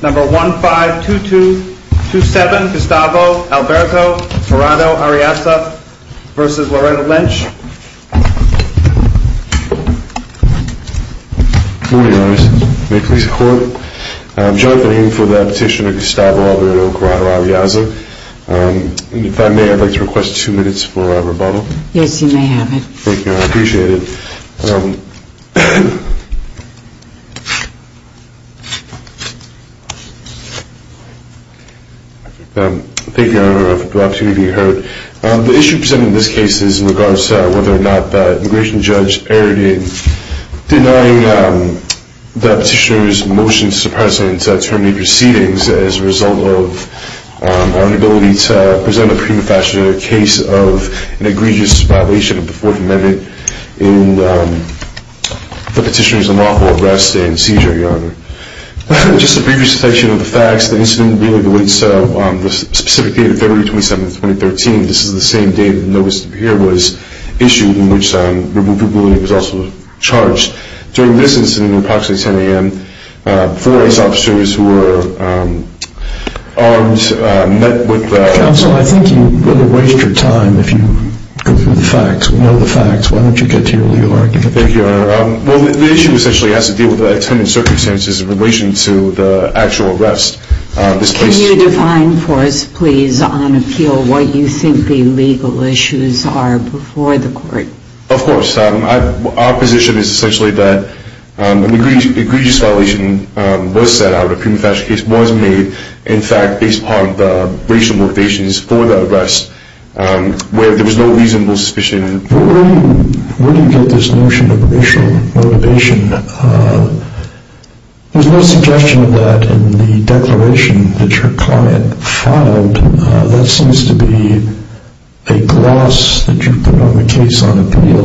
Number 152227 Gustavo Alberto Corrado-Arriaza v. Loretta Lynch Good morning, Your Honor. May it please the Court? I'm jumping in for the petition of Gustavo Alberto Corrado-Arriaza. If I may, I'd like to request two minutes for a rebuttal. Yes, you may have it. Thank you, I appreciate it. Thank you, Your Honor, for the opportunity to be heard. The issue presented in this case is in regards to whether or not the immigration judge erred in denying the petitioner's motion to the President to terminate proceedings as a result of our inability to present a prima facie case of an egregious violation of the Fourth Amendment in the petitioner's lawful arrest and seizure, Your Honor. Just a brief recitation of the facts. The incident will be released on the specific date of February 27, 2013. This is the same day the notice here was issued, in which removal ruling was also charged. During this incident, at approximately 10 a.m., four ICE officers who were armed met with the... Counsel, I think you really waste your time if you go through the facts. We know the facts. Why don't you get to your legal argument? Thank you, Your Honor. Well, the issue essentially has to do with the attendant circumstances in relation to the actual arrest. Can you define for us, please, on appeal, what you think the legal issues are before the court? Of course. Our position is essentially that an egregious violation was set out, a prima facie case was made, in fact, based upon the racial motivations for the arrest, where there was no reasonable suspicion. Where do you get this notion of racial motivation? There's no suggestion of that in the declaration that your client filed. That seems to be a gloss that you've put on the case on appeal.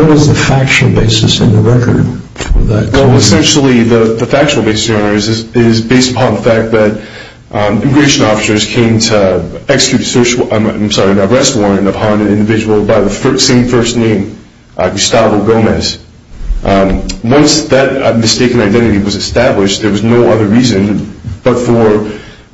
What is the factual basis in the record of that claim? Well, essentially, the factual basis, Your Honor, is based upon the fact that immigration officers came to execute a search warrant upon an individual by the same first name, Gustavo Gomez. Once that mistaken identity was established, there was no other reason, but for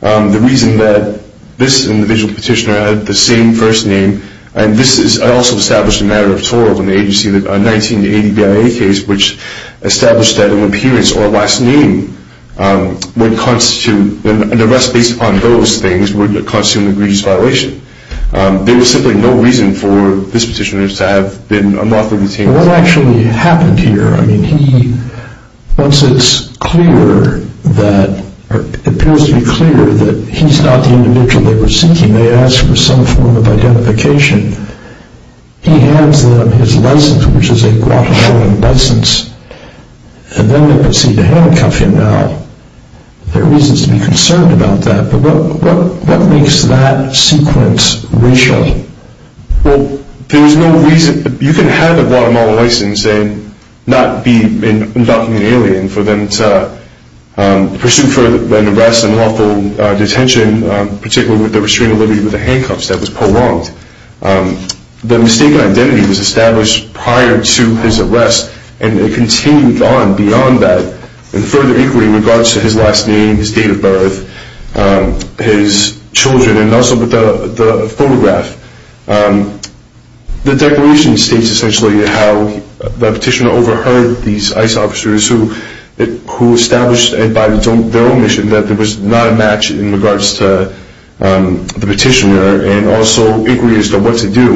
the reason that this individual petitioner had the same first name, and this is also established in a matter of tort in the 1980 BIA case, which established that an appearance or last name would constitute, an arrest based upon those things would constitute an egregious violation. There was simply no reason for this petitioner to have been unlawfully detained. What actually happened here? I mean, he, once it's clear that, or it appears to be clear that he's not the individual they were seeking, they asked for some form of identification, he hands them his license, which is a Guatemalan license, and then they proceed to handcuff him. Now, there are reasons to be concerned about that, but what makes that sequence racial? Well, there was no reason. You can have a Guatemalan license and not be an undocumented alien for them to pursue for an arrest and lawful detention, particularly with the restraint of liberty with the handcuffs. That was prolonged. The mistaken identity was established prior to his arrest, and it continued on beyond that in further inquiry in regards to his last name, his date of birth, his children, and also with the photograph. The declaration states essentially how the petitioner overheard these ICE officers who established by their own mission that there was not a match in regards to the petitioner and also inquiries as to what to do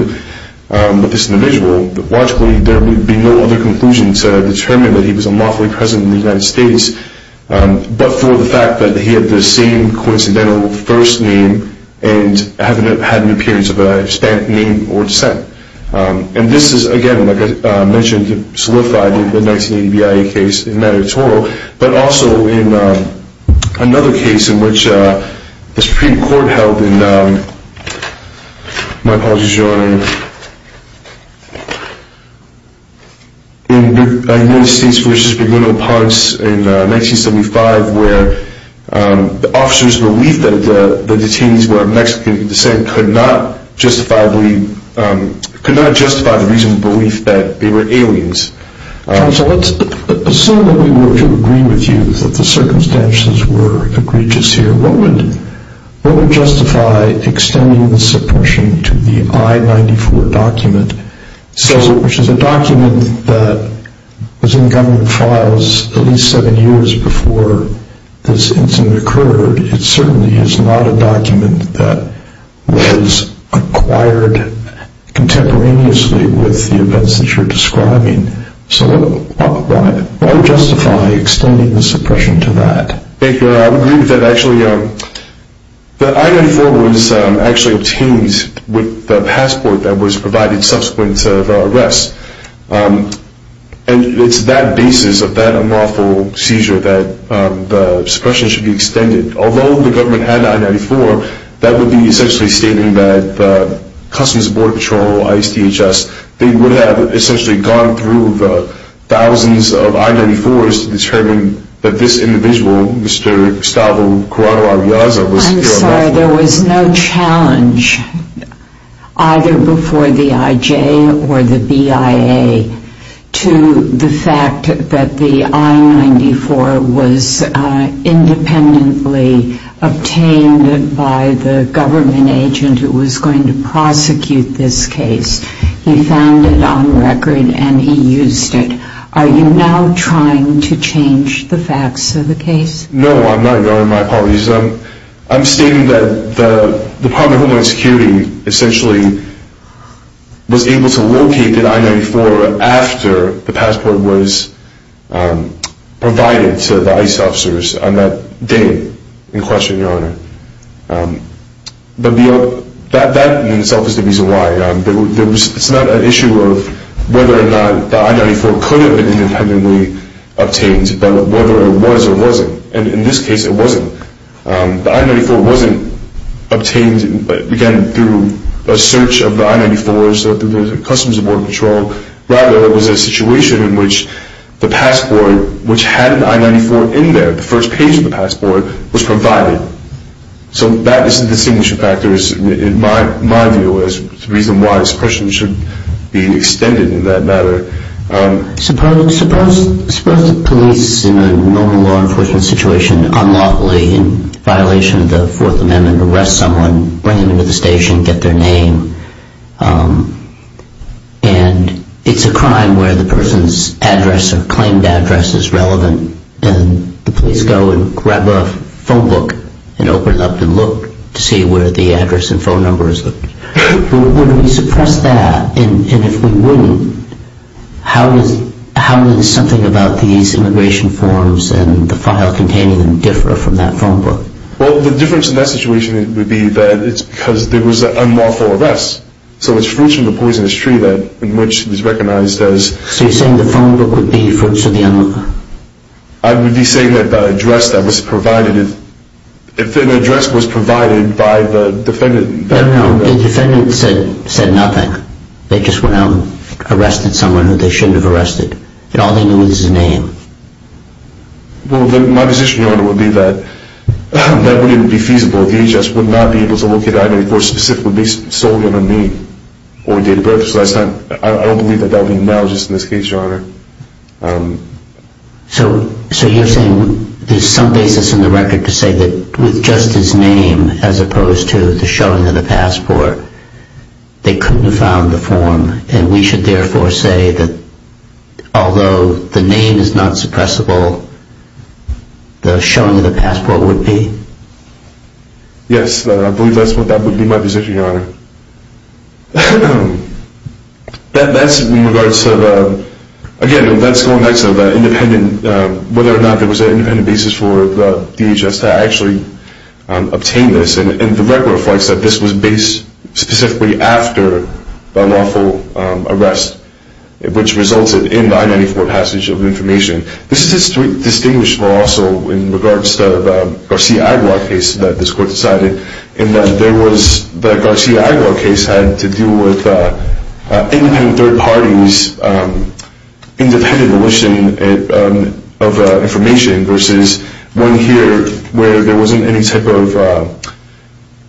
with this individual. Logically, there would be no other conclusion to determine that he was a lawfully present in the United States, but for the fact that he had the same coincidental first name and had an appearance of a stamped name or descent. And this is, again, like I mentioned, solidified in the 1980 BIA case in Manitouro, but also in another case in which the Supreme Court held in the United States versus Bermuda Ponds in 1975, where the officers believed that the detainees were of Mexican descent could not justify the reasonable belief that they were aliens. So let's assume that we were to agree with you that the circumstances were egregious here. What would justify extending the suppression to the I-94 document, which is a document that was in government files at least seven years before this incident occurred? It certainly is not a document that was acquired contemporaneously with the events that you're describing. So what would justify extending the suppression to that? Thank you. I would agree with that. Actually, the I-94 was actually obtained with the passport that was provided subsequent to the arrest. And it's that basis of that unlawful seizure that the suppression should be extended. Although the government had the I-94, that would be essentially stating that Customs and Border Patrol, ISDHS, they would have essentially gone through the thousands of I-94s to determine that this individual, Mr. Gustavo Corrado Arreaza, was here unlawfully. There was no challenge either before the IJ or the BIA to the fact that the I-94 was independently obtained by the government agent who was going to prosecute this case. He found it on record and he used it. Are you now trying to change the facts of the case? No, I'm not, Your Honor. My apologies. I'm stating that the Department of Homeland Security essentially was able to locate the I-94 after the passport was provided to the ICE officers on that day in question, Your Honor. But that in itself is the reason why. It's not an issue of whether or not the I-94 could have been independently obtained, but whether it was or wasn't, and in this case it wasn't. The I-94 wasn't obtained, again, through a search of the I-94s of the Customs and Border Patrol. Rather, it was a situation in which the passport, which had an I-94 in there, the first page of the passport, was provided. So that is the distinguishing factor in my view as to the reason why this question should be extended in that matter. Suppose the police, in a normal law enforcement situation, unlawfully, in violation of the Fourth Amendment, arrest someone, bring them into the station, get their name, and it's a crime where the person's address or claimed address is relevant, and the police go and grab a phone book and open it up and look to see where the address and phone number is. Would we suppress that? And if we wouldn't, how does something about these immigration forms and the file containing them differ from that phone book? Well, the difference in that situation would be that it's because there was an unlawful arrest. So it's fruits of the poisonous tree in which it was recognized as... So you're saying the phone book would be fruits of the unlawful? I would be saying that the address that was provided, if an address was provided by the defendant... No, no. The defendant said nothing. They just went out and arrested someone who they shouldn't have arrested. All they knew was his name. Well, then my position, Your Honor, would be that that wouldn't be feasible. The DHS would not be able to look at that and, of course, specifically solely on a name or date of birth. So I don't believe that that would be analogous in this case, Your Honor. So you're saying there's some basis in the record to say that with just his name as opposed to the showing of the passport, they couldn't have found the form and we should therefore say that although the name is not suppressible, the showing of the passport would be? Yes, I believe that's what would be my position, Your Honor. That's in regards to the, again, that's going back to the independent, whether or not there was an independent basis for the DHS to actually obtain this. And the record reflects that this was based specifically after the unlawful arrest, which resulted in the I-94 passage of the information. This is distinguishable also in regards to the Garcia Aguilar case that this Court decided in that there was the Garcia Aguilar case had to do with independent third parties, independent militia of information versus one here where there wasn't any type of,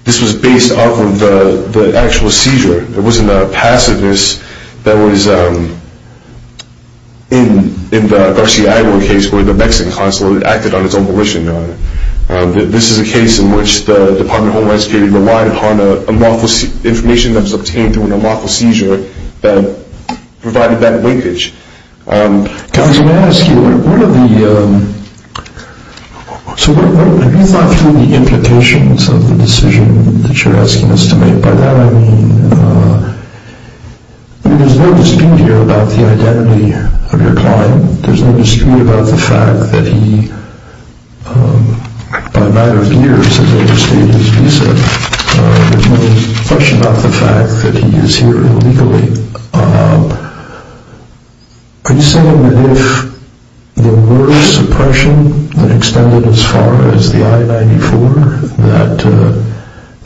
this was based off of the actual seizure. It wasn't a passiveness that was in the Garcia Aguilar case where the Mexican consulate acted on its own militia, Your Honor. This is a case in which the Department of Homeland Security relied upon information that was obtained through an unlawful seizure that provided that linkage. Counsel, may I ask you, what are the, so have you thought through the implications of the decision that you're asking us to make by that? I mean, there's no dispute here about the identity of your client. There's no dispute about the fact that he, by a matter of years, as I understand it, as you said, there's no question about the fact that he is here illegally. Are you saying that if there were suppression that extended as far as the I-94, that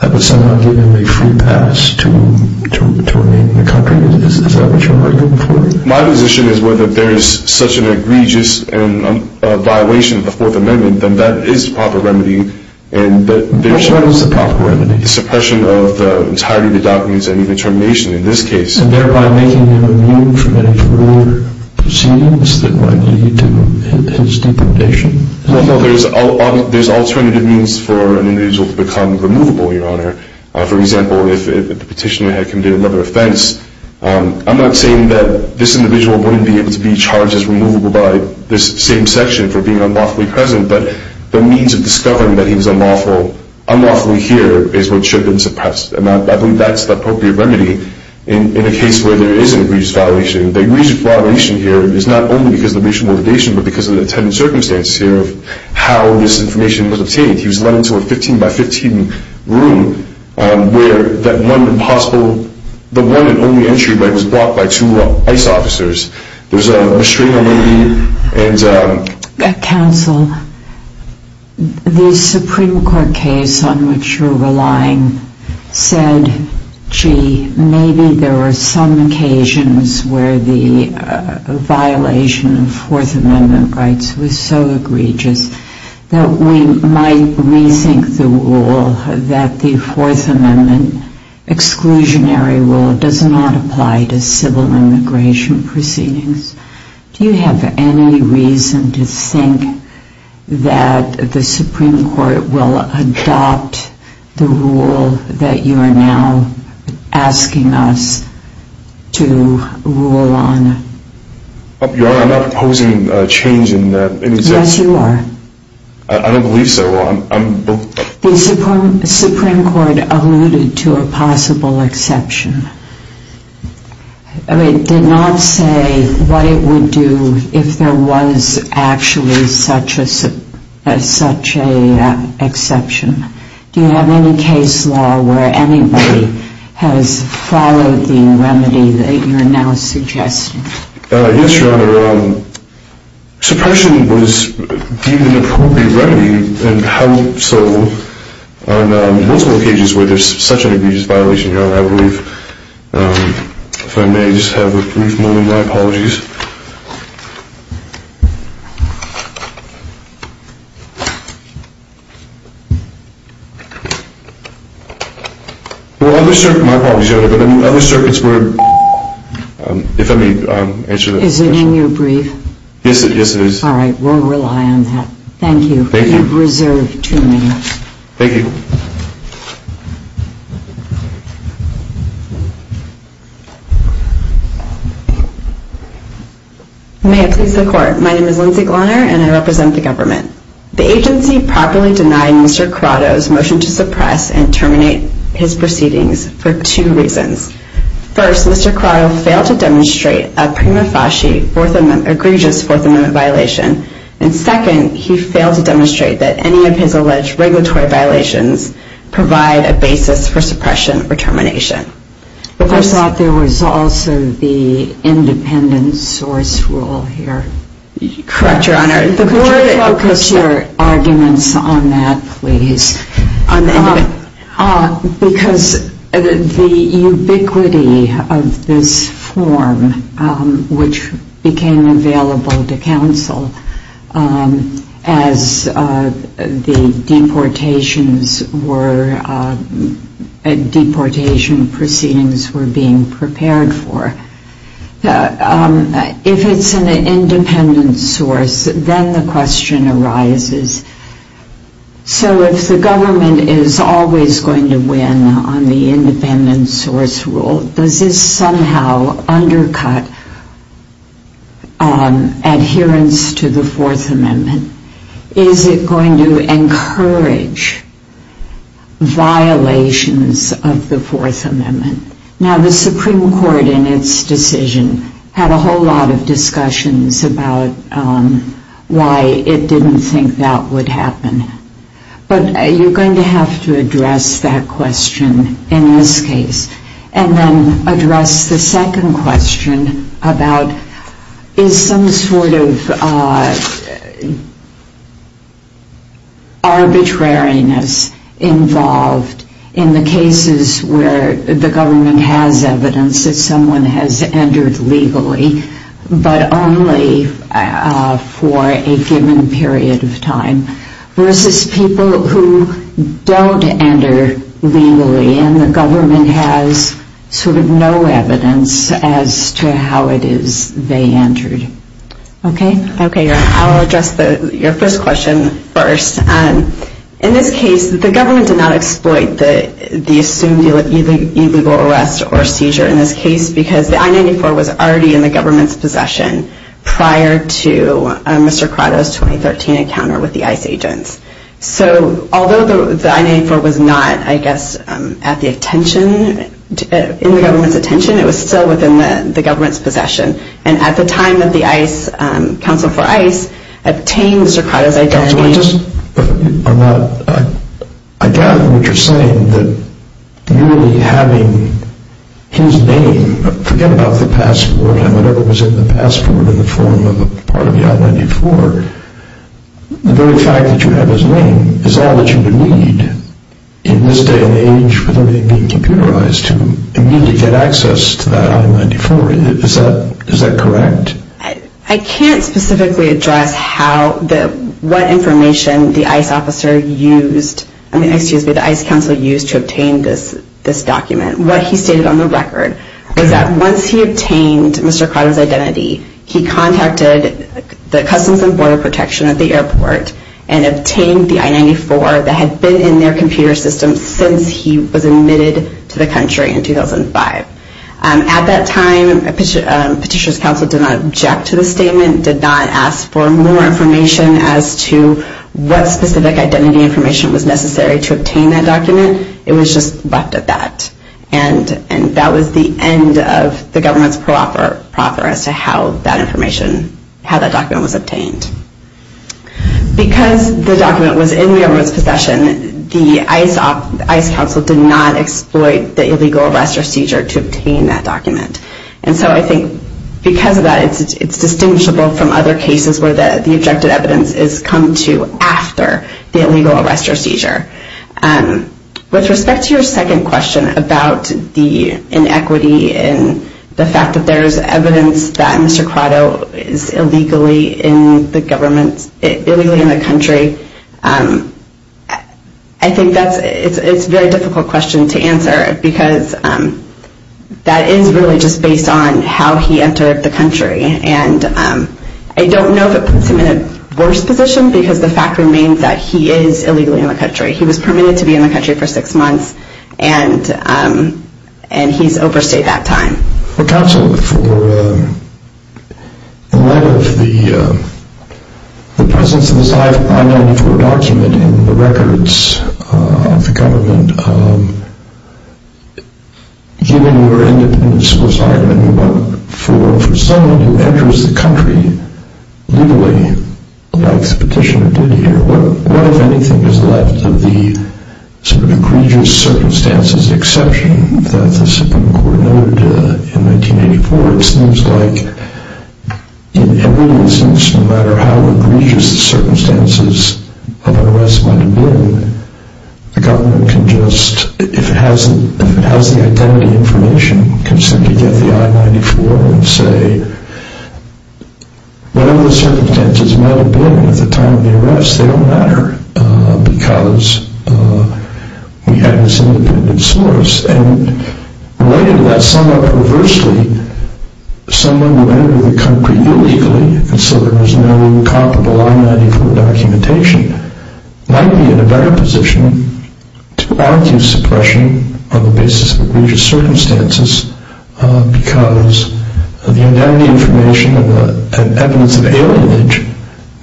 that would somehow give him a free pass to remain in the country? Is that what you're arguing for? My position is whether there is such an egregious violation of the Fourth Amendment, then that is the proper remedy. And there is a proper remedy. Suppression of the entirety of the documents that need determination in this case. And thereby making him immune from any further proceedings that might lead to his deportation? Well, there's alternative means for an individual to become removable, Your Honor. For example, if the petitioner had committed another offense, I'm not saying that this individual wouldn't be able to be charged as removable by this same section for being unlawfully present. But the means of discovering that he was unlawfully here is what should have been suppressed. And I believe that's the appropriate remedy in a case where there is an egregious violation. The egregious violation here is not only because of the racial motivation, but because of the attendant circumstances here of how this information was obtained. He was led into a 15-by-15 room where the one and only entry was blocked by two ICE officers. There's a machina waiting. Counsel, the Supreme Court case on which you're relying said, gee, maybe there were some occasions where the violation of Fourth Amendment rights was so egregious that we might rethink the rule that the Fourth Amendment exclusionary rule does not apply to civil immigration proceedings. Do you have any reason to think that the Supreme Court will adopt the rule that you are now asking us to rule on? Your Honor, I'm not proposing a change in existence. Yes, you are. I don't believe so. The Supreme Court alluded to a possible exception. It did not say what it would do if there was actually such an exception. Do you have any case law where anybody has followed the remedy that you are now suggesting? Yes, Your Honor. Suppression was deemed an appropriate remedy, and how so on multiple occasions where there's such an egregious violation. Your Honor, I believe, if I may just have a brief moment, my apologies. My apologies, Your Honor, but in other circuits where, if I may answer that question. Is it in your brief? Yes, it is. All right. We'll rely on that. Thank you. Thank you. You've reserved too many. Thank you. May it please the Court. My name is Lindsay Glenner, and I represent the government. The agency properly denied Mr. Quarto's motion to suppress and terminate his proceedings for two reasons. First, Mr. Quarto failed to demonstrate a prima facie egregious Fourth Amendment violation. And second, he failed to demonstrate that any of his alleged regulatory violations provide a basis for suppression or termination. I thought there was also the independent source rule here. Correct, Your Honor. Could you focus your arguments on that, please? Because the ubiquity of this form, which became available to counsel as the deportation proceedings were being prepared for, if it's an independent source, then the question arises, so if the government is always going to win on the independent source rule, does this somehow undercut adherence to the Fourth Amendment? Is it going to encourage violations of the Fourth Amendment? Now, the Supreme Court, in its decision, had a whole lot of discussions about why it didn't think that would happen. But you're going to have to address that question in this case. And then address the second question about is some sort of arbitrariness involved in the cases where the government has evidence that someone has entered legally, but only for a given period of time, versus people who don't enter legally and the government has sort of no evidence as to how it is they entered. Okay? Okay, Your Honor. I'll address your first question first. In this case, the government did not exploit the assumed illegal arrest or seizure in this case because the I-94 was already in the government's possession prior to Mr. Crotto's 2013 encounter with the ICE agents. So although the I-94 was not, I guess, at the attention, in the government's attention, it was still within the government's possession. And at the time of the ICE, counsel for ICE, obtained Mr. Crotto's identity. Counsel, I just, I'm not, I gather what you're saying, that merely having his name, forget about the passport, and whatever was in the passport in the form of a part of the I-94, the very fact that you have his name is all that you would need in this day and age with everything being computerized to immediately get access to that I-94. Is that correct? I can't specifically address how, what information the ICE officer used, I mean, excuse me, the ICE counsel used to obtain this document. What he stated on the record is that once he obtained Mr. Crotto's identity, he contacted the Customs and Border Protection at the airport and obtained the I-94 that had been in their computer system since he was admitted to the country in 2005. At that time, Petitioner's Counsel did not object to the statement, did not ask for more information as to what specific identity information was necessary to obtain that document. It was just left at that. And that was the end of the government's proffer as to how that information, how that document was obtained. Because the document was in the government's possession, the ICE counsel did not exploit the illegal arrest or seizure to obtain that document. And so I think because of that, it's distinguishable from other cases where the objective evidence is come to after the illegal arrest or seizure. With respect to your second question about the inequity and the fact that there is evidence that Mr. Crotto is illegally in the government, illegally in the country, I think that's, it's a very difficult question to answer because that is really just based on how he entered the country. And I don't know if it puts him in a worse position because the fact remains that he is illegally in the country. He was permitted to be in the country for six months and he's overstayed that time. Counsel, for the lack of the presence of this I-94 document in the records of the government, given your independence requirement for someone who enters the country legally, like the petitioner did here, what, if anything, is left of the sort of egregious circumstances, the exception that the Supreme Court noted in 1984? It seems like in every instance, no matter how egregious the circumstances of an arrest might have been, the government can just, if it has the identity information, can simply get the I-94 and say whatever the circumstances might have been at the time of the arrest, they don't matter because we have this independent source. And related to that, somewhat perversely, someone who entered the country illegally, and so there was no comparable I-94 documentation, might be in a better position to argue suppression on the basis of egregious circumstances because the identity information and evidence of alienation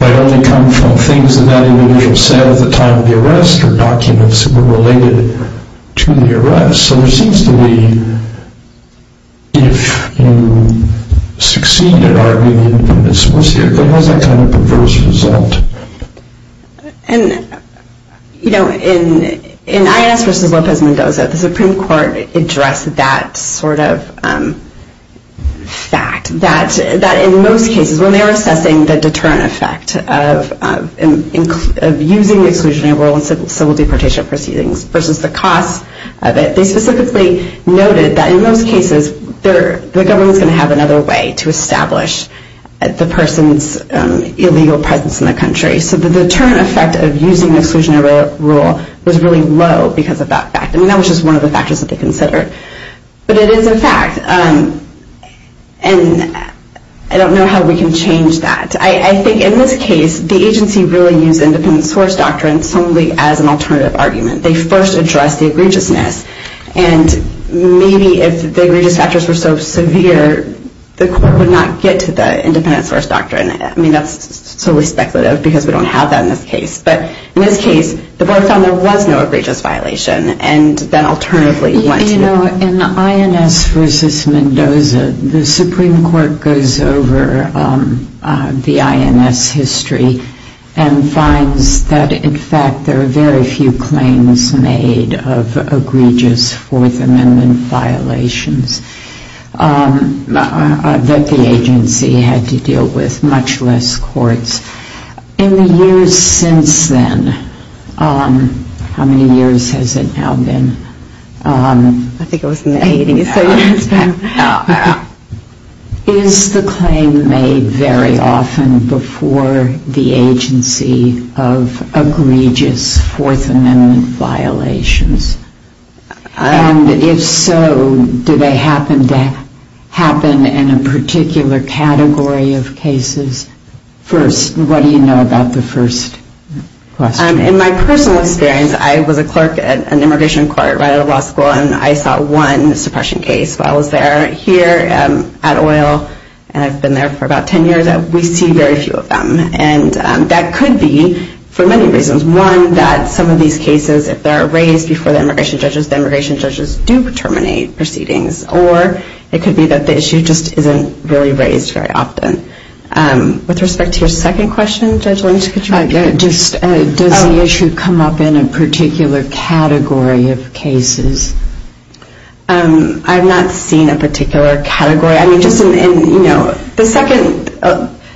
might only come from things that that individual said at the time of the arrest or documents that were related to the arrest. So there seems to be, if you succeed in arguing independence, we'll see if it has that kind of perverse result. And, you know, in Inez versus Lopez Mendoza, the Supreme Court addressed that sort of fact, that in most cases, when they were assessing the deterrent effect of using exclusionary rule in civil deportation proceedings versus the cost of it, they specifically noted that in most cases, the government's going to have another way to establish the person's illegal presence in the country. So the deterrent effect of using exclusionary rule was really low because of that fact. I mean, that was just one of the factors that they considered. But it is a fact, and I don't know how we can change that. I think in this case, the agency really used independent source doctrine solely as an alternative argument. They first addressed the egregiousness, and maybe if the egregious factors were so severe, the court would not get to the independent source doctrine. I mean, that's solely speculative because we don't have that in this case. But in this case, the board found there was no egregious violation and then alternatively went to the... Well, in INS versus Mendoza, the Supreme Court goes over the INS history and finds that, in fact, there are very few claims made of egregious Fourth Amendment violations that the agency had to deal with, much less courts. In the years since then, how many years has it now been? I think it was in the 80s. Is the claim made very often before the agency of egregious Fourth Amendment violations? And if so, do they happen in a particular category of cases? What do you know about the first question? In my personal experience, I was a clerk at an immigration court right out of law school and I saw one suppression case while I was there. Here at OIL, and I've been there for about 10 years, we see very few of them. And that could be for many reasons. One, that some of these cases, if they're raised before the immigration judges, the immigration judges do terminate proceedings. Or it could be that the issue just isn't really raised very often. With respect to your second question, Judge Lynch, could you repeat it? Does the issue come up in a particular category of cases? I've not seen a particular category. I mean, just in, you know, the second...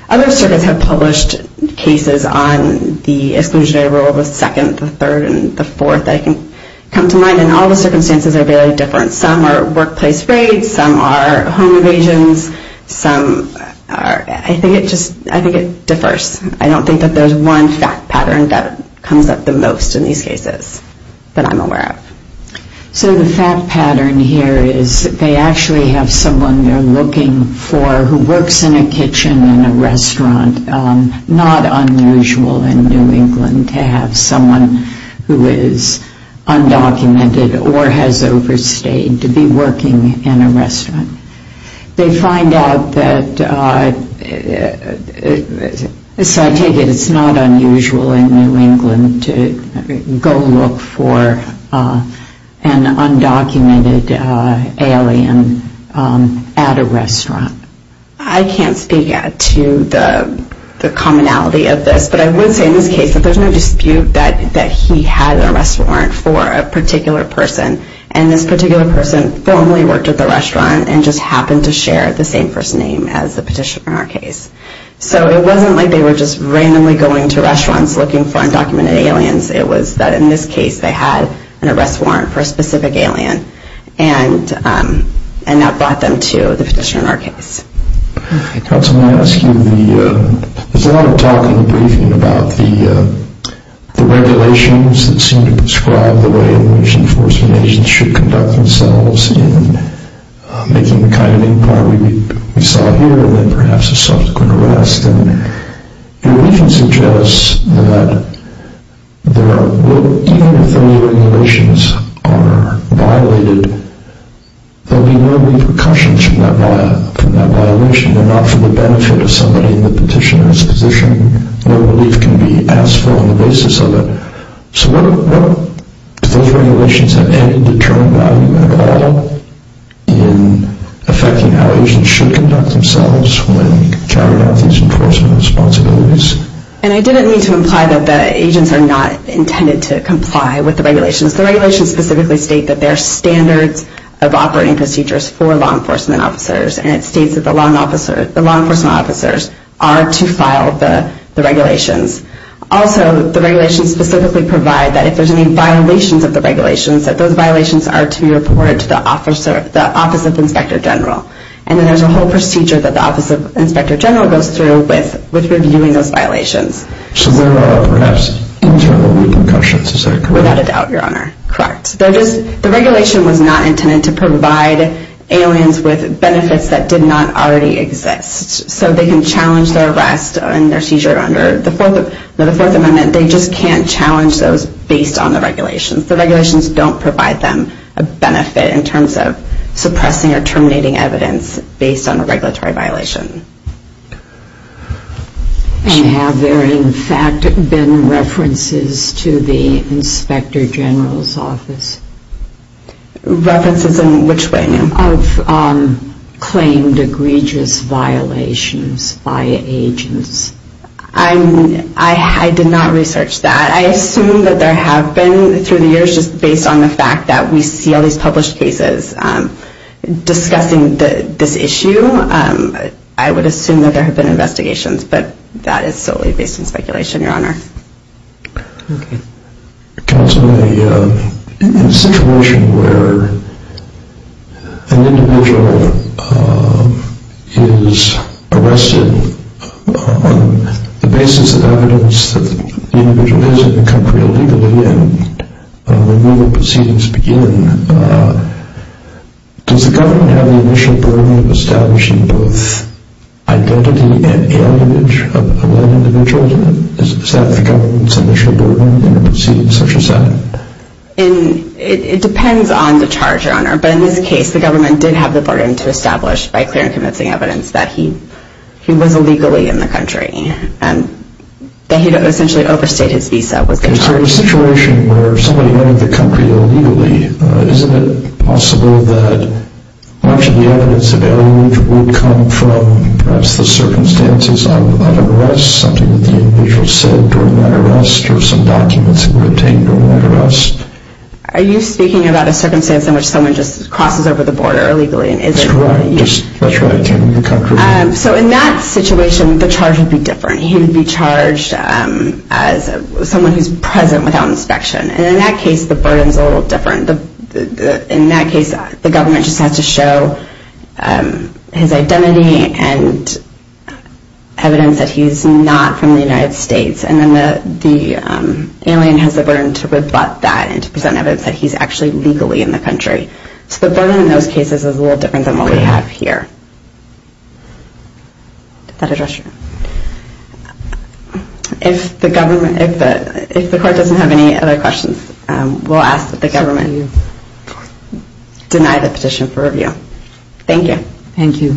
Other circuits have published cases on the exclusionary rule of the second, the third, and the fourth that I can come to mind, and all the circumstances are very different. Some are workplace raids, some are home evasions, some are... I think it just... I think it differs. I don't think that there's one fact pattern that comes up the most in these cases that I'm aware of. So the fact pattern here is they actually have someone they're looking for who works in a kitchen in a restaurant. Not unusual in New England to have someone who is undocumented or has overstayed to be working in a restaurant. They find out that... So I take it it's not unusual in New England to go look for an undocumented alien at a restaurant. I can't speak to the commonality of this, but I would say in this case that there's no dispute that he had a restaurant for a particular person, and this particular person formally worked at the restaurant and just happened to share the same first name as the petitioner in our case. So it wasn't like they were just randomly going to restaurants looking for undocumented aliens. It was that in this case they had an arrest warrant for a specific alien, and that brought them to the petitioner in our case. I want to ask you, there's a lot of talk in the briefing about the regulations that seem to prescribe the way in which enforcement agents should conduct themselves in making the kind of inquiry we saw here and then perhaps a subsequent arrest, and your briefing suggests that even if the regulations are violated, there will be no repercussions from that violation. They're not for the benefit of somebody in the petitioner's position. No relief can be asked for on the basis of it. So do those regulations have any determined value at all in affecting how agents should conduct themselves when carrying out these enforcement responsibilities? And I didn't mean to imply that the agents are not intended to comply with the regulations. The regulations specifically state that there are standards of operating procedures for law enforcement officers, and it states that the law enforcement officers are to file the regulations. Also, the regulations specifically provide that if there's any violations of the regulations, that those violations are to be reported to the Office of Inspector General. And then there's a whole procedure that the Office of Inspector General goes through with reviewing those violations. So there are perhaps internal repercussions, is that correct? Without a doubt, Your Honor. Correct. The regulation was not intended to provide aliens with benefits that did not already exist. So they can challenge their arrest and their seizure under the Fourth Amendment. They just can't challenge those based on the regulations. The regulations don't provide them a benefit in terms of suppressing or terminating evidence based on a regulatory violation. And have there, in fact, been references to the Inspector General's office? References in which way, ma'am? Of claimed egregious violations by agents. I did not research that. I assume that there have been through the years, just based on the fact that we see all these published cases discussing this issue. I would assume that there have been investigations, but that is solely based on speculation, Your Honor. Counsel, in a situation where an individual is arrested on the basis of evidence that the individual is in the country illegally and removal proceedings begin, does the government have the initial burden of establishing both identity and alienage of a lone individual? Is that the government's initial burden in a proceeding such as that? It depends on the charge, Your Honor. But in this case, the government did have the burden to establish by clear and convincing evidence that he was illegally in the country and that he had essentially overstayed his visa. In a situation where somebody went into the country illegally, isn't it possible that much of the evidence of alienage would come from perhaps the circumstances of an arrest, something that the individual said during that arrest or some documents that were obtained during that arrest? Are you speaking about a circumstance in which someone just crosses over the border illegally? That's correct. That's right. Came into the country. So in that situation, the charge would be different. He would be charged as someone who's present without inspection. And in that case, the burden's a little different. In that case, the government just has to show his identity and evidence that he's not from the United States. And then the alien has the burden to rebut that and to present evidence that he's actually legally in the country. So the burden in those cases is a little different than what we have here. Did that address you? If the court doesn't have any other questions, we'll ask that the government deny the petition for review. Thank you. Thank you.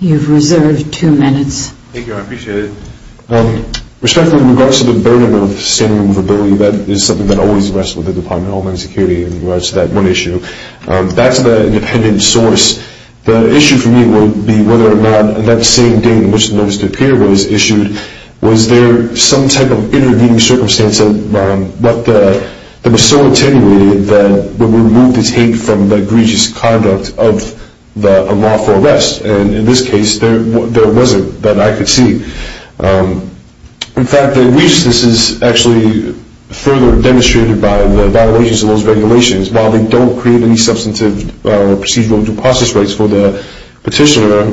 You've reserved two minutes. Thank you. I appreciate it. Respectfully, in regards to the burden of standing removability, that is something that always rests with the Department of Homeland Security in regards to that one issue. That's the independent source. The issue for me would be whether or not that same day in which the notice to appear was issued, was there some type of intervening circumstance that was so attenuated that it would remove the tape from the egregious conduct of a lawful arrest. And in this case, there wasn't that I could see. In fact, the egregiousness is actually further demonstrated by the violations of those regulations. While they don't create any substantive procedural due process rights for the petitioner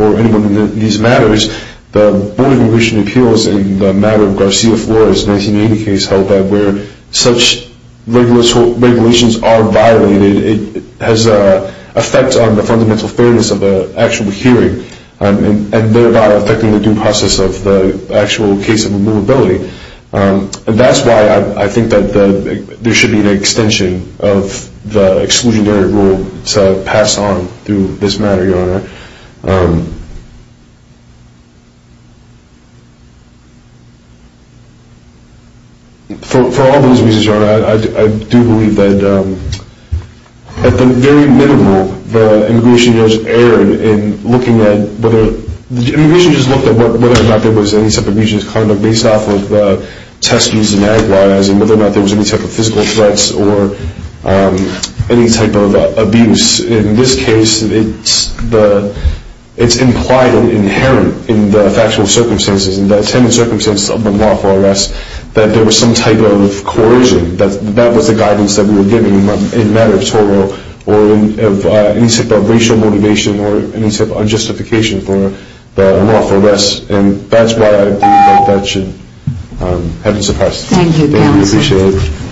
or anyone in these matters, the Board of Immigration Appeals in the matter of Garcia Flores' 1980 case held that where such regulations are violated, it has an effect on the fundamental fairness of the actual hearing, and thereby affecting the due process of the actual case of removability. That's why I think that there should be an extension of the exclusionary rule to pass on through this matter, Your Honor. For all those reasons, Your Honor, I do believe that at the very minimum, the immigration judge erred in looking at whether the immigration judge looked at whether or not there was any type of egregious conduct based off of the testings and that was, and whether or not there was any type of physical threats or any type of abuse. In this case, it's implied and inherent in the factual circumstances and the attendant circumstances of a lawful arrest that there was some type of coercion. That was the guidance that we were given in the matter of Toro or any type of racial motivation or any type of unjustification for the lawful arrest, and that's why I believe that that should have been suppressed. Thank you, Counselor. Thank you. I appreciate it.